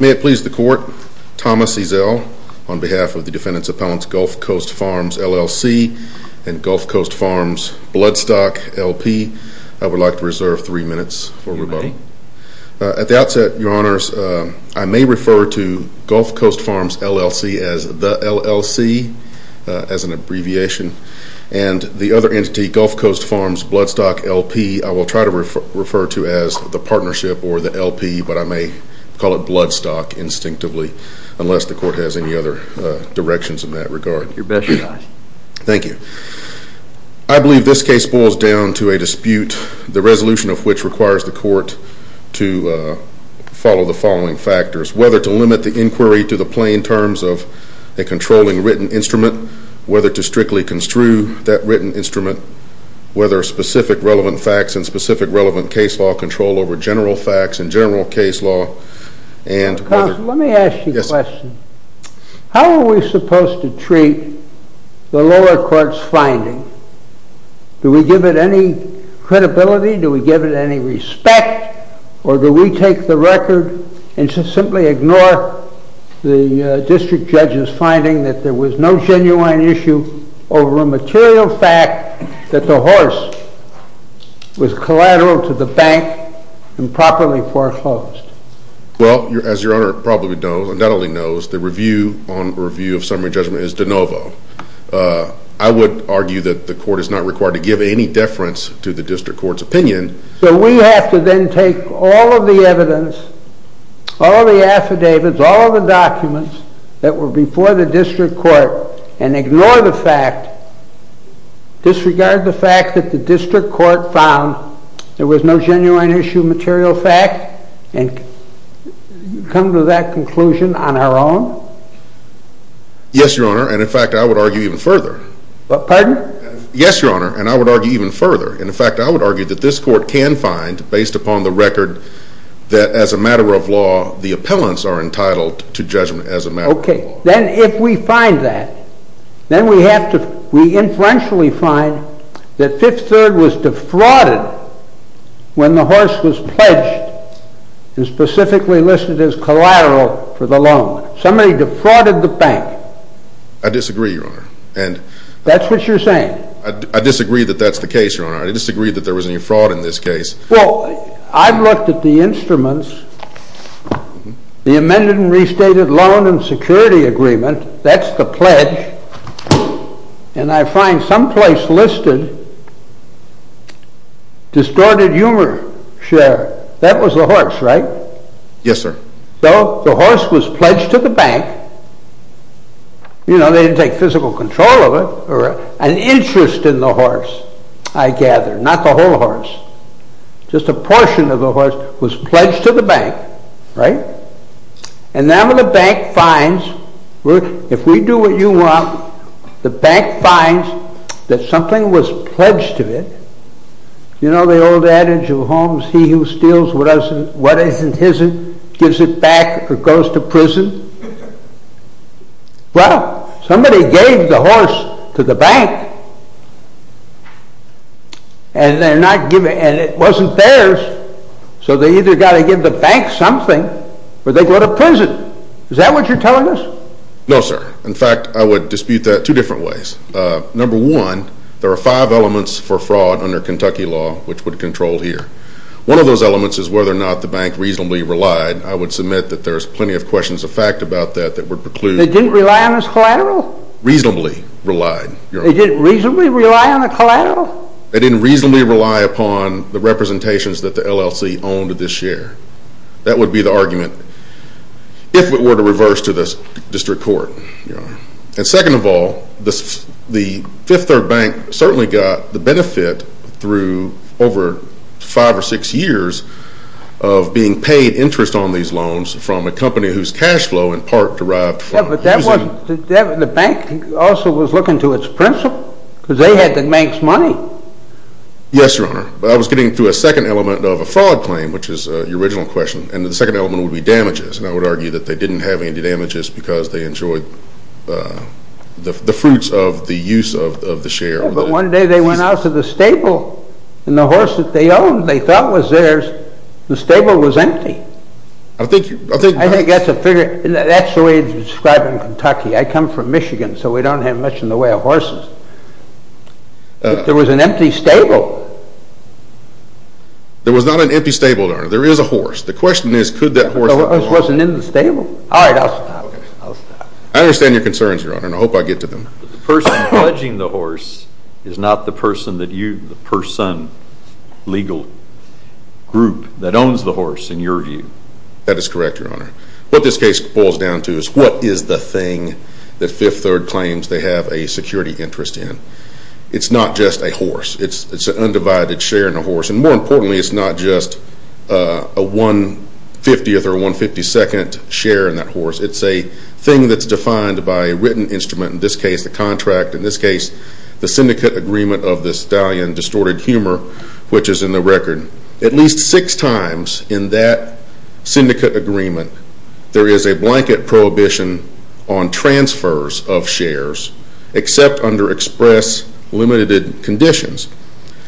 May it please the court, Thomas Ezel on behalf of the defendants appellants Gulf Coast Farms LLC and Gulf Coast Farms Bloodstock LP I would like to reserve three minutes for rebuttal. At the outset your honors I may refer to Gulf Coast Farms LLC as the LLC as an abbreviation and the other entity Gulf Coast Farms Bloodstock LP I will try to refer to as the partnership or the LP but I may call it Bloodstock instinctively unless the court has any other directions in that regard. Your best your honor. Thank you. I believe this case boils down to a dispute the court to follow the following factors whether to limit the inquiry to the plain terms of a controlling written instrument, whether to strictly construe that written instrument, whether specific relevant facts and specific relevant case law control over general facts and general case law and. Let me ask you a question. How are we supposed to treat the lower court's finding? Do we give it any credibility? Do we give it any respect? Or do we take the record and just simply ignore the district judge's finding that there was no genuine issue over a material fact that the horse was collateral to the bank and properly foreclosed? Well as your honor probably knows and not only knows the review on review of summary judgment is de novo. I would argue that the court is not required to give any deference to the district court's opinion. So we have to then take all of the evidence, all of the affidavits, all of the documents that were before the district court and ignore the fact, disregard the fact that the district court found there was no genuine issue material fact and come to that conclusion on our own? Yes your honor and in fact I would argue even further. Pardon? Yes your honor and I would argue even further and in fact I would argue that this court can find based upon the record that as a matter of law the appellants are entitled to judgment as a matter of law. Okay, then if we find that, then we have to, we influentially find that Fifth Third was defrauded when the horse was pledged and specifically listed as collateral for the loan. Somebody defrauded the bank. I disagree your honor. That's what you're saying. I disagree that that's the case. Yes your honor. I disagree that there was any fraud in this case. Well, I've looked at the instruments, the amended and restated loan and security agreement, that's the pledge and I find some place listed distorted humor share. That was the horse, right? Yes sir. So the horse was pledged to the bank, you know, they didn't take physical control of it or an interest in the horse. I gather, not the whole horse, just a portion of the horse was pledged to the bank, right? And now when the bank finds, if we do what you want, the bank finds that something was pledged to it, you know the old adage of Holmes, he who steals what isn't his, gives it back or goes to prison. Well, somebody gave the horse to the bank and it wasn't theirs, so they either got to give the bank something or they go to prison. Is that what you're telling us? No sir. In fact, I would dispute that two different ways. Number one, there are five elements for fraud under Kentucky law which would control here. One of those elements is whether or not the bank reasonably relied. I would submit that there's plenty of questions of fact. They didn't rely on a collateral? Reasonably relied. They didn't reasonably rely on a collateral? They didn't reasonably rely upon the representations that the LLC owned this year. That would be the argument if it were to reverse to the district court. And second of all, the Fifth Third Bank certainly got the benefit through over five or six years of being paid interest on these loans from a company whose cash flow in part derived from… Yeah, but the bank also was looking to its principal because they had the bank's money. Yes, Your Honor. I was getting to a second element of a fraud claim, which is your original question, and the second element would be damages, and I would argue that they didn't have any damages because they enjoyed the fruits of the use of the share. Yeah, but one day they went out to the stable and the horse that they owned they thought was theirs, the stable was empty. I think… That's the way it's described in Kentucky. I come from Michigan, so we don't have much in the way of horses. There was an empty stable. There was not an empty stable, Your Honor. There is a horse. The question is could that horse… The horse wasn't in the stable. All right, I'll stop. I understand your concerns, Your Honor, and I hope I get to them. The person pledging the horse is not the person that you, the person, legal group that owns the horse in your view. That is correct, Your Honor. What this case boils down to is what is the thing that Fifth Third claims they have a security interest in. It's not just a horse. It's an undivided share in a horse, and more importantly it's not just a one-fiftieth or one-fifty-second share in that horse. It's a thing that's defined by a written instrument, in this case the contract, in this case the syndicate agreement of the stallion distorted humor, which is in the record. At least six times in that syndicate agreement there is a blanket prohibition on transfers of shares except under express limited conditions.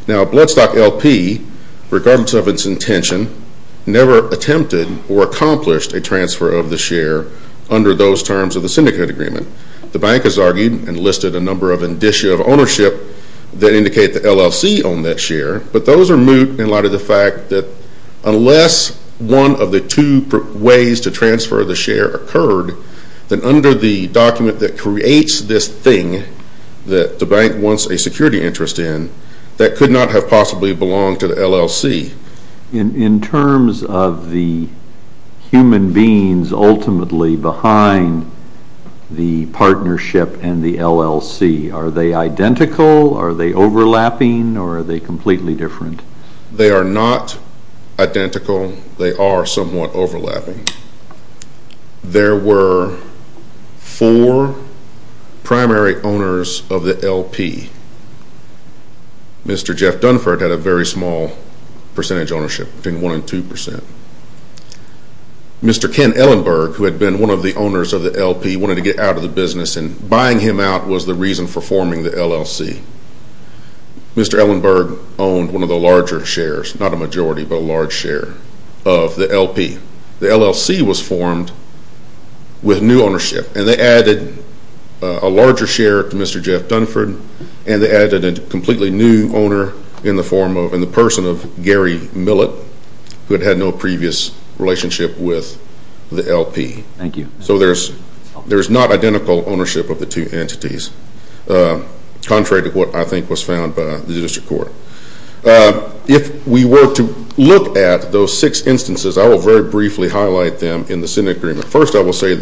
Now Bloodstock LP, regardless of its intention, never attempted or accomplished a transfer of the share under those terms of the syndicate agreement. The bank has argued and listed a number of indicia of ownership that indicate the LLC owned that share, but those are moot in light of the fact that unless one of the two ways to transfer the share occurred, then under the document that creates this thing that the bank wants a security interest in, that could not have possibly belonged to the LLC. In terms of the human beings ultimately behind the partnership and the LLC, are they identical? Are they overlapping? Or are they completely different? They are not identical. They are somewhat overlapping. There were four primary owners of the LP. Mr. Jeff Dunford had a very small percentage ownership, between one and two percent. Mr. Ken Ellenberg, who had been one of the owners of the LP, wanted to get out of the business and buying him out was the reason for forming the LLC. Mr. Ellenberg owned one of the larger shares, not a majority, but a large share of the LP. The LLC was formed with new ownership and they added a larger share to Mr. Jeff Dunford and they added a completely new owner in the form of, in the person of Gary Millet, who had had no previous relationship with the LP. Thank you. So there is not identical ownership of the two entities, contrary to what I think was found by the district court. If we were to look at those six instances, I will very briefly highlight them in the Senate agreement. First, I will say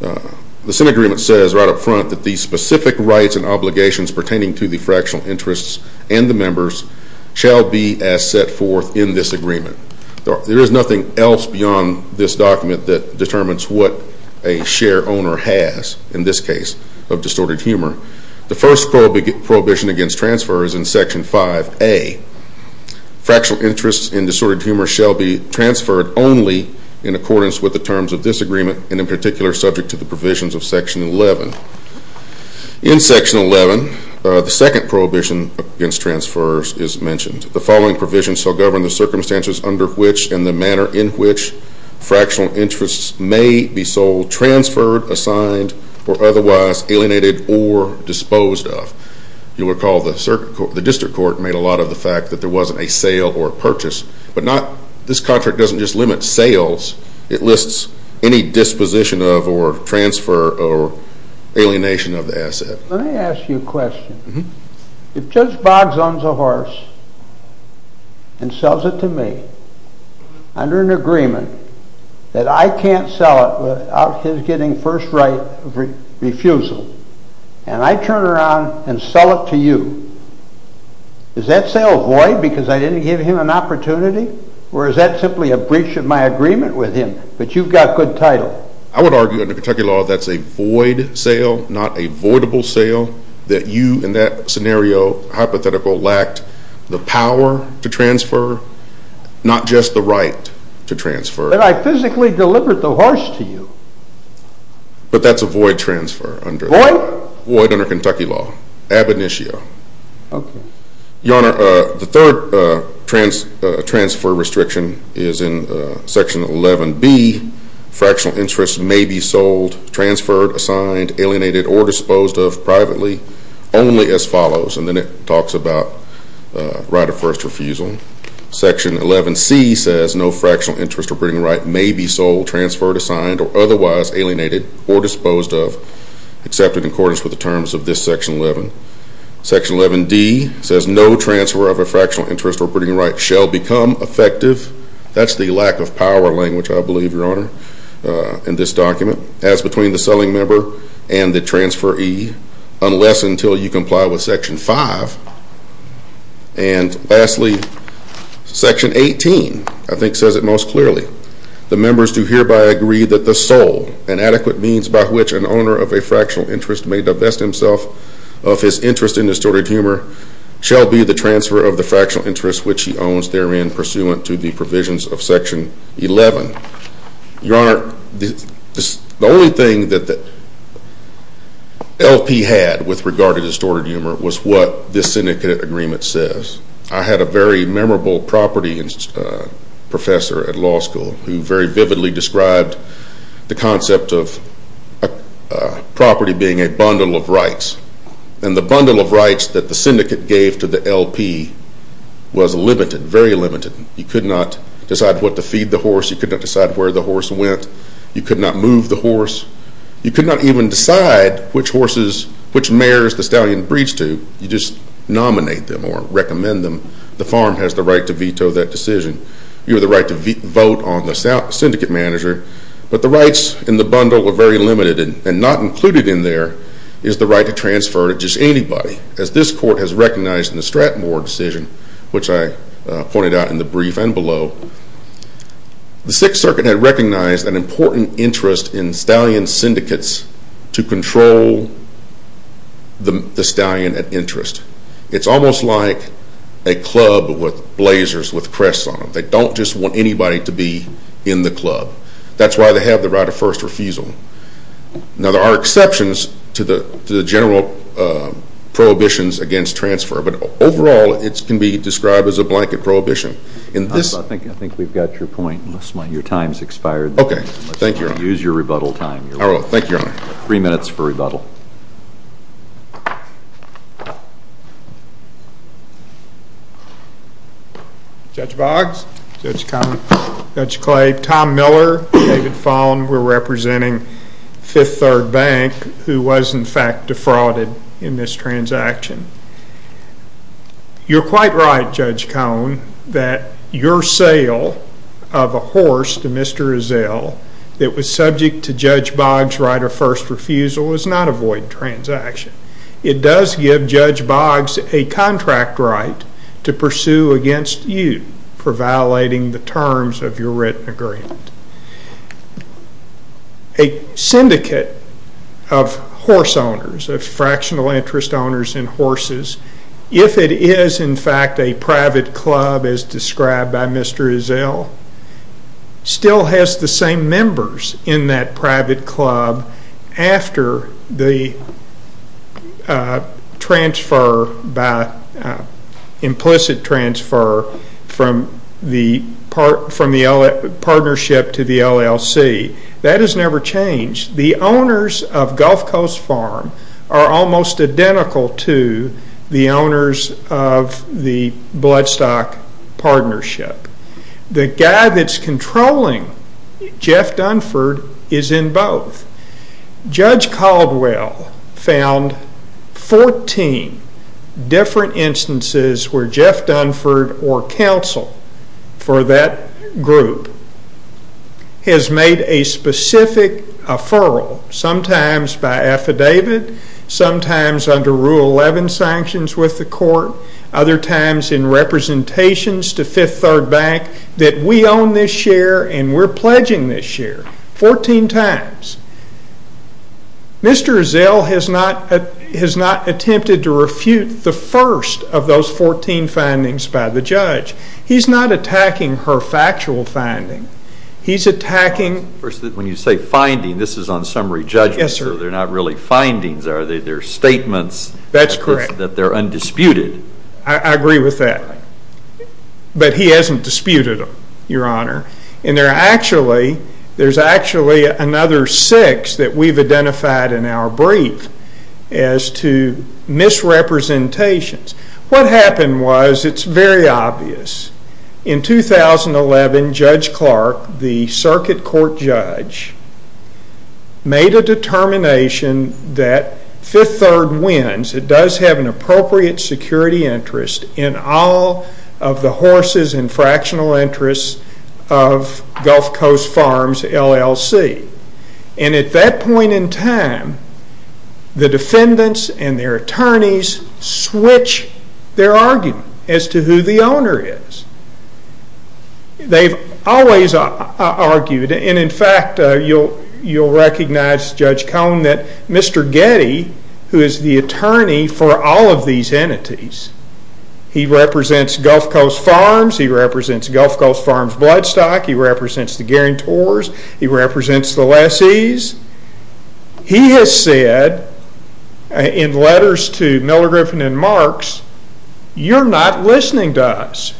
the Senate agreement says right up front that the specific rights and obligations pertaining to the fractional interests and the members shall be as set forth in this agreement. There is nothing else beyond this document that determines what a share owner has, in this case, of distorted humor. The first prohibition against transfer is in Section 5A. Fractional interests and distorted humor shall be transferred only in accordance with the terms of this agreement and in particular subject to the provisions of Section 11. In Section 11, the second prohibition against transfer is mentioned. The following provisions shall govern the circumstances under which and the manner in which fractional interests may be sold, transferred, assigned, or otherwise alienated or disposed of. You will recall the district court made a lot of the fact that there wasn't a sale or a purchase, but this contract doesn't just limit sales, it lists any disposition of or transfer or alienation of the asset. Let me ask you a question. If Judge Boggs owns a horse and sells it to me under an agreement that I can't sell it without his getting first right refusal and I turn around and sell it to you, is that sale void because I didn't give him an opportunity or is that simply a breach of my agreement with him, but you've got good title? I would argue under Kentucky law that's a void sale, not a voidable sale, that you in that scenario, hypothetical, lacked the power to transfer, not just the right to transfer. But I physically delivered the horse to you. But that's a void transfer. Void? Void under Kentucky law, ab initio. Okay. Your Honor, the third transfer restriction is in section 11B. Fractional interest may be sold, transferred, assigned, alienated, or disposed of privately only as follows. And then it talks about right of first refusal. Section 11C says no fractional interest or bidding right may be sold, transferred, assigned, or otherwise alienated or disposed of except in accordance with the terms of this section 11. Section 11D says no transfer of a fractional interest or bidding right shall become effective. That's the lack of power language, I believe, Your Honor, in this document. As between the selling member and the transferee, unless until you comply with section 5. And lastly, section 18, I think says it most clearly. The members do hereby agree that the sole and adequate means by which an owner of a fractional interest may divest himself of his interest in distorted humor shall be the transfer of the fractional interest which he owns therein pursuant to the provisions of section 11. Your Honor, the only thing that LP had with regard to distorted humor was what this syndicate agreement says. I had a very memorable property professor at law school who very vividly described the concept of property being a bundle of rights. And the bundle of rights that the syndicate gave to the LP was limited, very limited. You could not decide what to feed the horse. You could not decide where the horse went. You could not move the horse. You could not even decide which mares the stallion breeds to. You just nominate them or recommend them. The farm has the right to veto that decision. You have the right to vote on the syndicate manager. But the rights in the bundle were very limited. And not included in there is the right to transfer to just anybody. As this court has recognized in the Strattenmore decision, which I pointed out in the brief and below, the Sixth Circuit had recognized an important interest in stallion syndicates to control the stallion at interest. It's almost like a club with blazers with crests on them. They don't just want anybody to be in the club. That's why they have the right of first refusal. Now, there are exceptions to the general prohibitions against transfer. But overall, it can be described as a blanket prohibition. I think we've got your point. Your time has expired. Okay. Thank you, Your Honor. Use your rebuttal time. I will. Thank you, Your Honor. Three minutes for rebuttal. Judge Boggs. Judge Kley. Tom Miller. David Fallin. We're representing Fifth Third Bank, who was, in fact, defrauded in this transaction. You're quite right, Judge Cone, that your sale of a horse to Mr. Azell that was subject to Judge Boggs' right of first refusal is not a void transaction. It does give Judge Boggs a contract right to pursue against you for violating the terms of your written agreement. A syndicate of horse owners, of fractional interest owners in horses, if it is, in fact, a private club as described by Mr. Azell, still has the same members in that private club after the transfer by implicit transfer from the partnership to the LLC. That has never changed. The owners of Gulf Coast Farm are almost identical to the owners of the Bloodstock Partnership. The guy that's controlling Jeff Dunford is in both. Judge Caldwell found 14 different instances where Jeff Dunford or counsel for that group has made a specific referral, sometimes by affidavit, sometimes under Rule 11 sanctions with the court, other times in representations to Fifth Third Bank, that we own this share and we're pledging this share, 14 times. Mr. Azell has not attempted to refute the first of those 14 findings by the judge. He's not attacking her factual finding. He's attacking... First, when you say finding, this is on summary judgment, sir. Yes, sir. They're not really findings, are they? They're statements... That's correct. ...that they're undisputed. I agree with that. But he hasn't disputed them, Your Honor. And there's actually another six that we've identified in our brief as to misrepresentations. What happened was, it's very obvious. In 2011, Judge Clark, the circuit court judge, made a determination that Fifth Third wins, it does have an appropriate security interest in all of the horses and fractional interests of Gulf Coast Farms, LLC. And at that point in time, the defendants and their attorneys switch their argument as to who the owner is. They've always argued, and in fact, you'll recognize, Judge Cone, that Mr. Getty, who is the attorney for all of these entities, he represents Gulf Coast Farms, he represents Gulf Coast Farms Bloodstock, he represents the guarantors, he represents the lessees. He has said, in letters to Miller, Griffin, and Marks, you're not listening to us.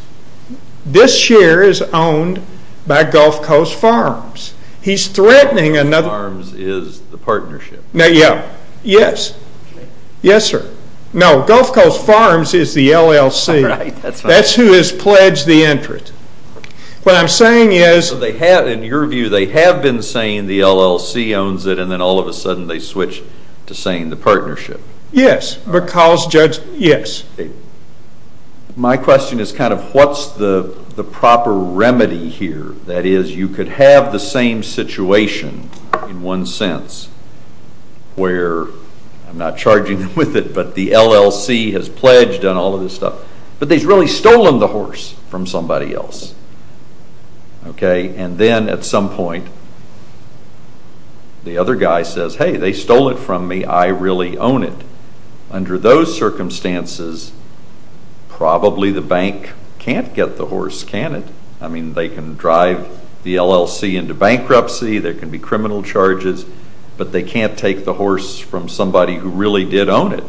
This share is owned by Gulf Coast Farms. He's threatening another... Gulf Coast Farms is the partnership. Now, yeah. Yes. Yes, sir. No, Gulf Coast Farms is the LLC. Right, that's right. That's who has pledged the interest. What I'm saying is... In your view, they have been saying the LLC owns it, and then all of a sudden they switch to saying the partnership. Yes, because, Judge, yes. My question is kind of what's the proper remedy here? That is, you could have the same situation, in one sense, where, I'm not charging them with it, but the LLC has pledged and all of this stuff, but they've really stolen the horse from somebody else. And then, at some point, the other guy says, hey, they stole it from me, I really own it. Under those circumstances, probably the bank can't get the horse, can it? I mean, they can drive the LLC into bankruptcy, there can be criminal charges, but they can't take the horse from somebody who really did own it.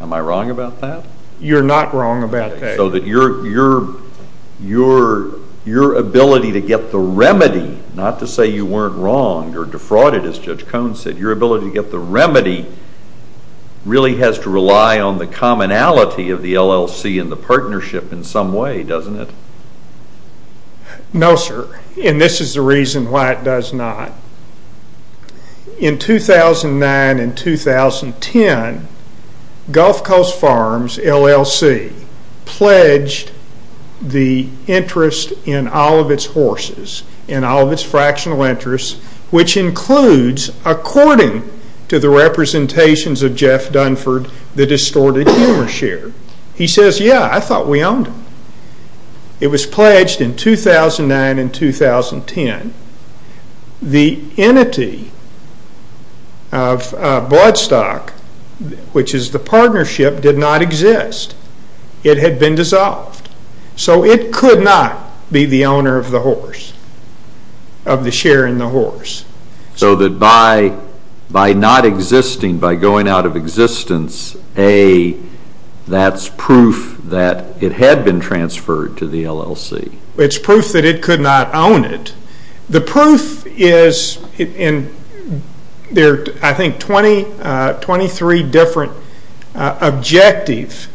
Am I wrong about that? You're not wrong about that. So that your ability to get the remedy, not to say you weren't wronged or defrauded, as Judge Cohn said, your ability to get the remedy really has to rely on the commonality of the LLC and the partnership in some way, doesn't it? No, sir. And this is the reason why it does not. In 2009 and 2010, Gulf Coast Farms LLC pledged the interest in all of its horses, in all of its fractional interests, which includes, according to the representations of Jeff Dunford, the distorted humor share. He says, yeah, I thought we owned it. It was pledged in 2009 and 2010. The entity of Bloodstock, which is the partnership, did not exist. It had been dissolved. So it could not be the owner of the horse, of the share in the horse. So that by not existing, by going out of existence, that's proof that it had been transferred to the LLC. It's proof that it could not own it. The proof is in, I think, 23 different objectives.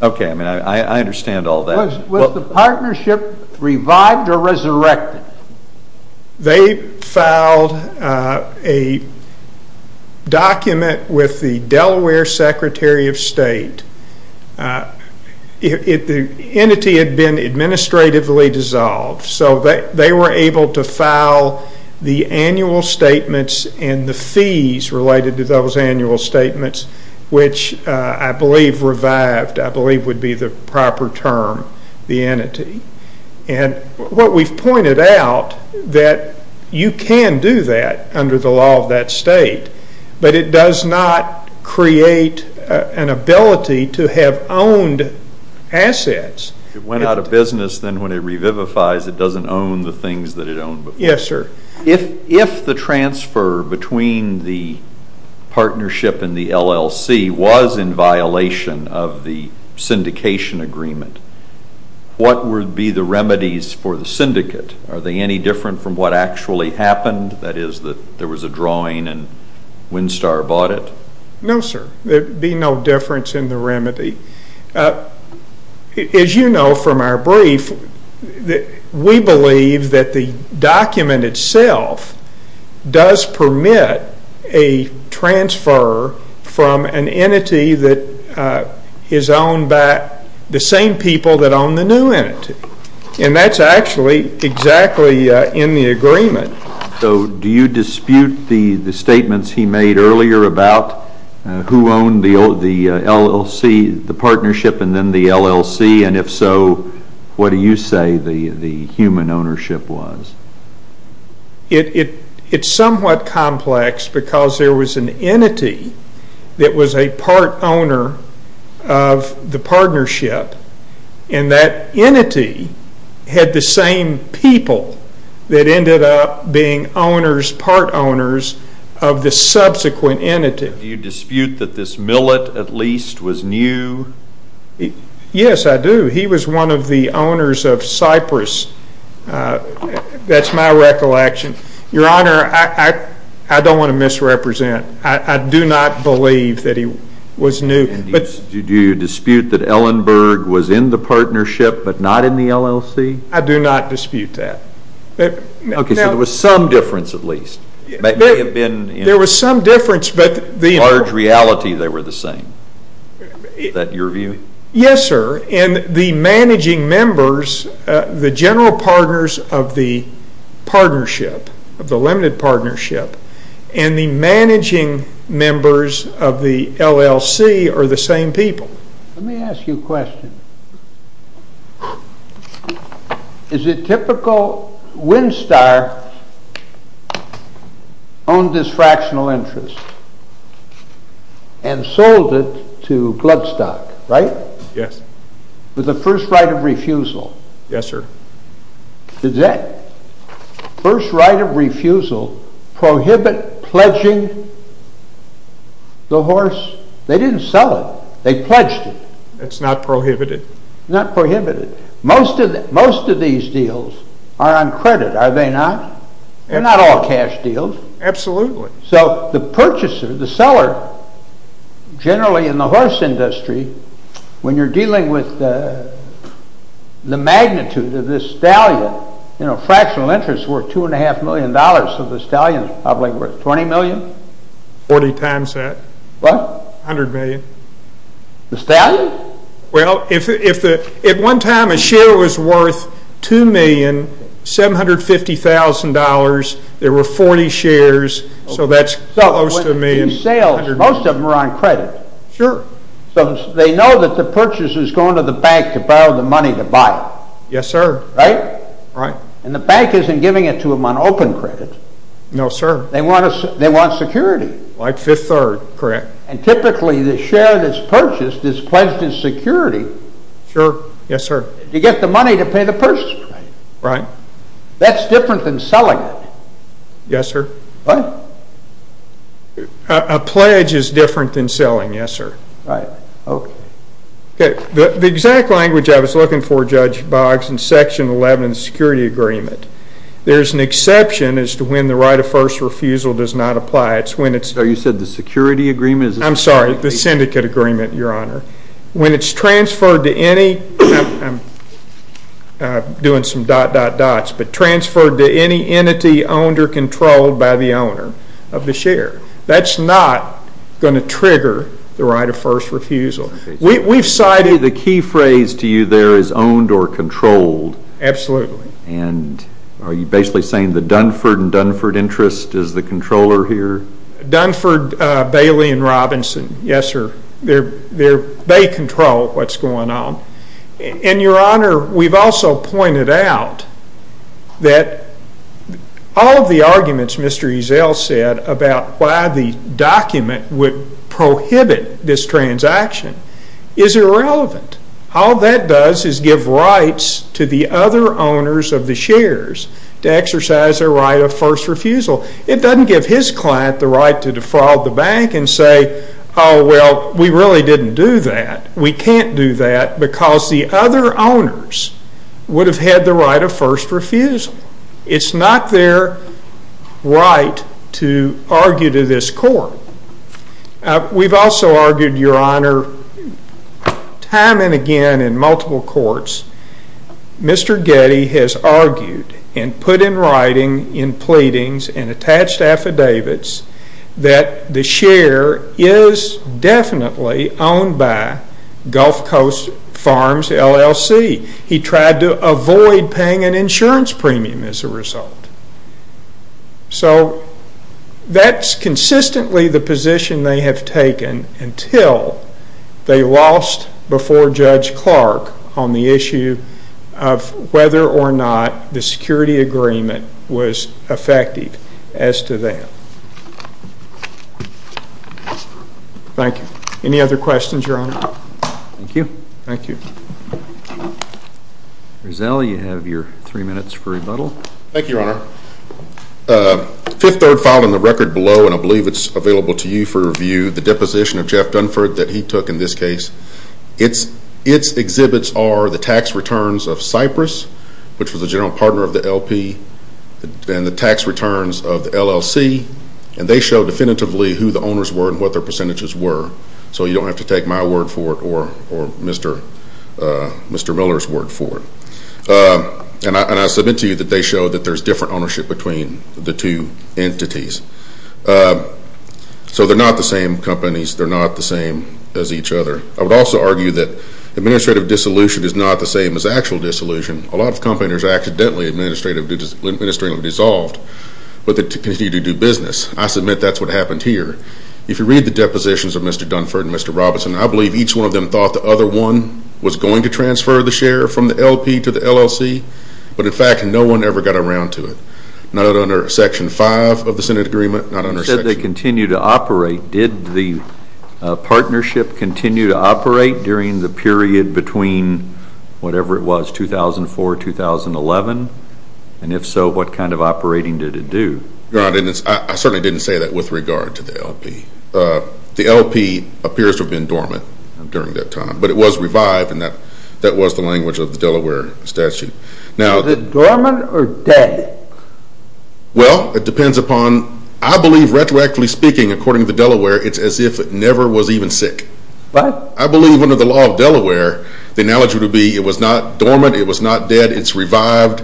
Okay, I mean, I understand all that. Was the partnership revived or resurrected? They filed a document with the Delaware Secretary of State. The entity had been administratively dissolved. So they were able to file the annual statements and the fees related to those annual statements, which I believe revived, I believe would be the proper term, the entity. And what we've pointed out, that you can do that under the law of that state, but it does not create an ability to have owned assets. It went out of business, then when it revivifies, it doesn't own the things that it owned before. Yes, sir. If the transfer between the partnership and the LLC was in violation of the syndication agreement, what would be the remedies for the syndicate? Are they any different from what actually happened? That is, that there was a drawing and Winstar bought it? No, sir. There would be no difference in the remedy. As you know from our brief, we believe that the document itself does permit a transfer from an entity that is owned by the same people that own the new entity. And that's actually exactly in the agreement. So do you dispute the statements he made earlier about who owned the LLC, the partnership, and then the LLC? And if so, what do you say the human ownership was? It's somewhat complex because there was an entity that was a part owner of the partnership, and that entity had the same people that ended up being part owners of the subsequent entity. Do you dispute that this millet at least was new? Yes, I do. He was one of the owners of Cypress. That's my recollection. Your Honor, I don't want to misrepresent. I do not believe that he was new. Do you dispute that Ellenberg was in the partnership but not in the LLC? I do not dispute that. Okay, so there was some difference at least. There was some difference. In large reality, they were the same. Is that your view? Yes, sir. And the managing members, the general partners of the partnership, of the limited partnership, and the managing members of the LLC are the same people. Let me ask you a question. Is it typical that Winstar owned this fractional interest and sold it to Bloodstock, right? Yes. With a first right of refusal. Yes, sir. Did that first right of refusal prohibit pledging the horse? They didn't sell it. They pledged it. It's not prohibited? Not prohibited. Most of these deals are on credit, are they not? They're not all cash deals. Absolutely. So the purchaser, the seller, generally in the horse industry, when you're dealing with the magnitude of this stallion, fractional interest is worth two and a half million dollars, so the stallion is probably worth twenty million? Forty times that. What? A hundred million. The stallion? Well, if at one time a share was worth two million, seven hundred fifty thousand dollars, there were forty shares, so that's close to a million. Most of them are on credit. Sure. So they know that the purchaser is going to the bank to borrow the money to buy it. Yes, sir. Right? Right. And the bank isn't giving it to them on open credit. No, sir. They want security. Like Fifth Third, correct. And typically the share that's purchased is pledged as security. Sure. Yes, sir. You get the money to pay the purchaser. Right. That's different than selling it. Yes, sir. What? A pledge is different than selling, yes, sir. Right. Okay. The exact language I was looking for, Judge Boggs, in Section 11 of the Security Agreement, there's an exception as to when the right of first refusal does not apply. Oh, you said the Security Agreement? I'm sorry, the Syndicate Agreement, Your Honor. When it's transferred to any, I'm doing some dot, dot, dots, but transferred to any entity owned or controlled by the owner of the share. That's not going to trigger the right of first refusal. Okay. The key phrase to you there is owned or controlled. Absolutely. And are you basically saying the Dunford and Dunford interest is the controller here? Dunford, Bailey, and Robinson, yes, sir. They control what's going on. And, Your Honor, we've also pointed out that all of the arguments Mr. Eazell said about why the document would prohibit this transaction is irrelevant. All that does is give rights to the other owners of the shares to exercise their right of first refusal. It doesn't give his client the right to defraud the bank and say, oh, well, we really didn't do that. We can't do that because the other owners would have had the right of first refusal. It's not their right to argue to this court. We've also argued, Your Honor, time and again in multiple courts, Mr. Getty has argued and put in writing in pleadings and attached affidavits that the share is definitely owned by Gulf Coast Farms LLC. He tried to avoid paying an insurance premium as a result. So that's consistently the position they have taken until they lost before Judge Clark on the issue of whether or not the security agreement was effective as to them. Thank you. Any other questions, Your Honor? Thank you. Thank you. Eazell, you have your three minutes for rebuttal. Thank you, Your Honor. Fifth third filed in the record below, and I believe it's available to you for review, the deposition of Jeff Dunford that he took in this case. Its exhibits are the tax returns of Cypress, which was a general partner of the LP, and the tax returns of the LLC. And they show definitively who the owners were and what their percentages were. So you don't have to take my word for it or Mr. Miller's word for it. And I submit to you that they show that there's different ownership between the two entities. So they're not the same companies. They're not the same as each other. I would also argue that administrative dissolution is not the same as actual dissolution. A lot of companies are accidentally administratively dissolved, but they continue to do business. I submit that's what happened here. If you read the depositions of Mr. Dunford and Mr. Robinson, I believe each one of them thought the other one was going to transfer the share from the LP to the LLC. But, in fact, no one ever got around to it. Not under Section 5 of the Senate Agreement. You said they continue to operate. Did the partnership continue to operate during the period between whatever it was, 2004, 2011? And if so, what kind of operating did it do? Your Honor, I certainly didn't say that with regard to the LP. The LP appears to have been dormant during that time. But it was revived, and that was the language of the Delaware statute. Was it dormant or dead? Well, it depends upon—I believe, retroactively speaking, according to Delaware, it's as if it never was even sick. What? I believe under the law of Delaware, the analogy would be it was not dormant, it was not dead, it's revived,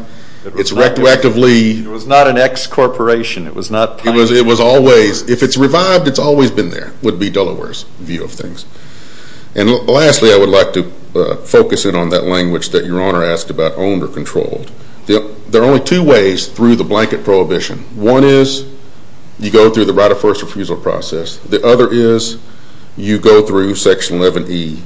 it's retroactively— It was not an ex-corporation. It was always—if it's revived, it's always been there, would be Delaware's view of things. And lastly, I would like to focus in on that language that Your Honor asked about owned or controlled. There are only two ways through the blanket prohibition. One is you go through the right of first refusal process. The other is you go through Section 11E,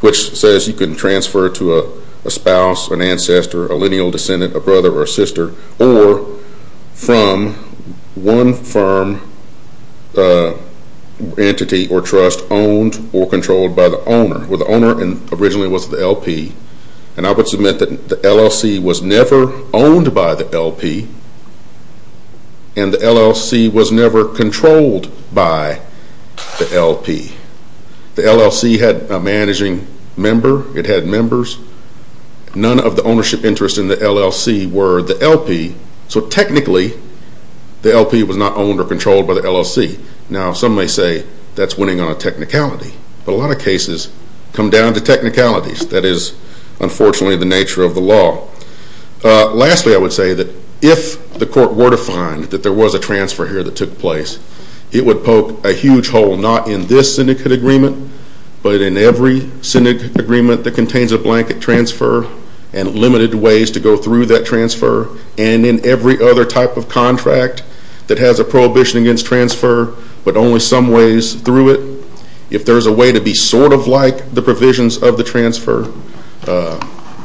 which says you can transfer to a spouse, an ancestor, a lineal descendant, a brother or sister, or from one firm entity or trust owned or controlled by the owner. Well, the owner originally was the LP, and I would submit that the LLC was never owned by the LP, and the LLC was never controlled by the LP. The LLC had a managing member. It had members. None of the ownership interests in the LLC were the LP, so technically the LP was not owned or controlled by the LLC. Now, some may say that's winning on a technicality, but a lot of cases come down to technicalities. That is, unfortunately, the nature of the law. Lastly, I would say that if the court were to find that there was a transfer here that took place, it would poke a huge hole, not in this syndicate agreement, but in every syndicate agreement that contains a blanket transfer and limited ways to go through that transfer, and in every other type of contract that has a prohibition against transfer, but only some ways through it. If there's a way to be sort of like the provisions of the transfer,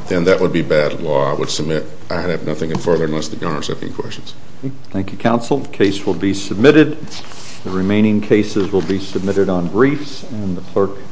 then that would be bad law. I would submit I have nothing further unless the governor has any questions. Thank you, counsel. The case will be submitted. The remaining cases will be submitted on briefs. And the clerk.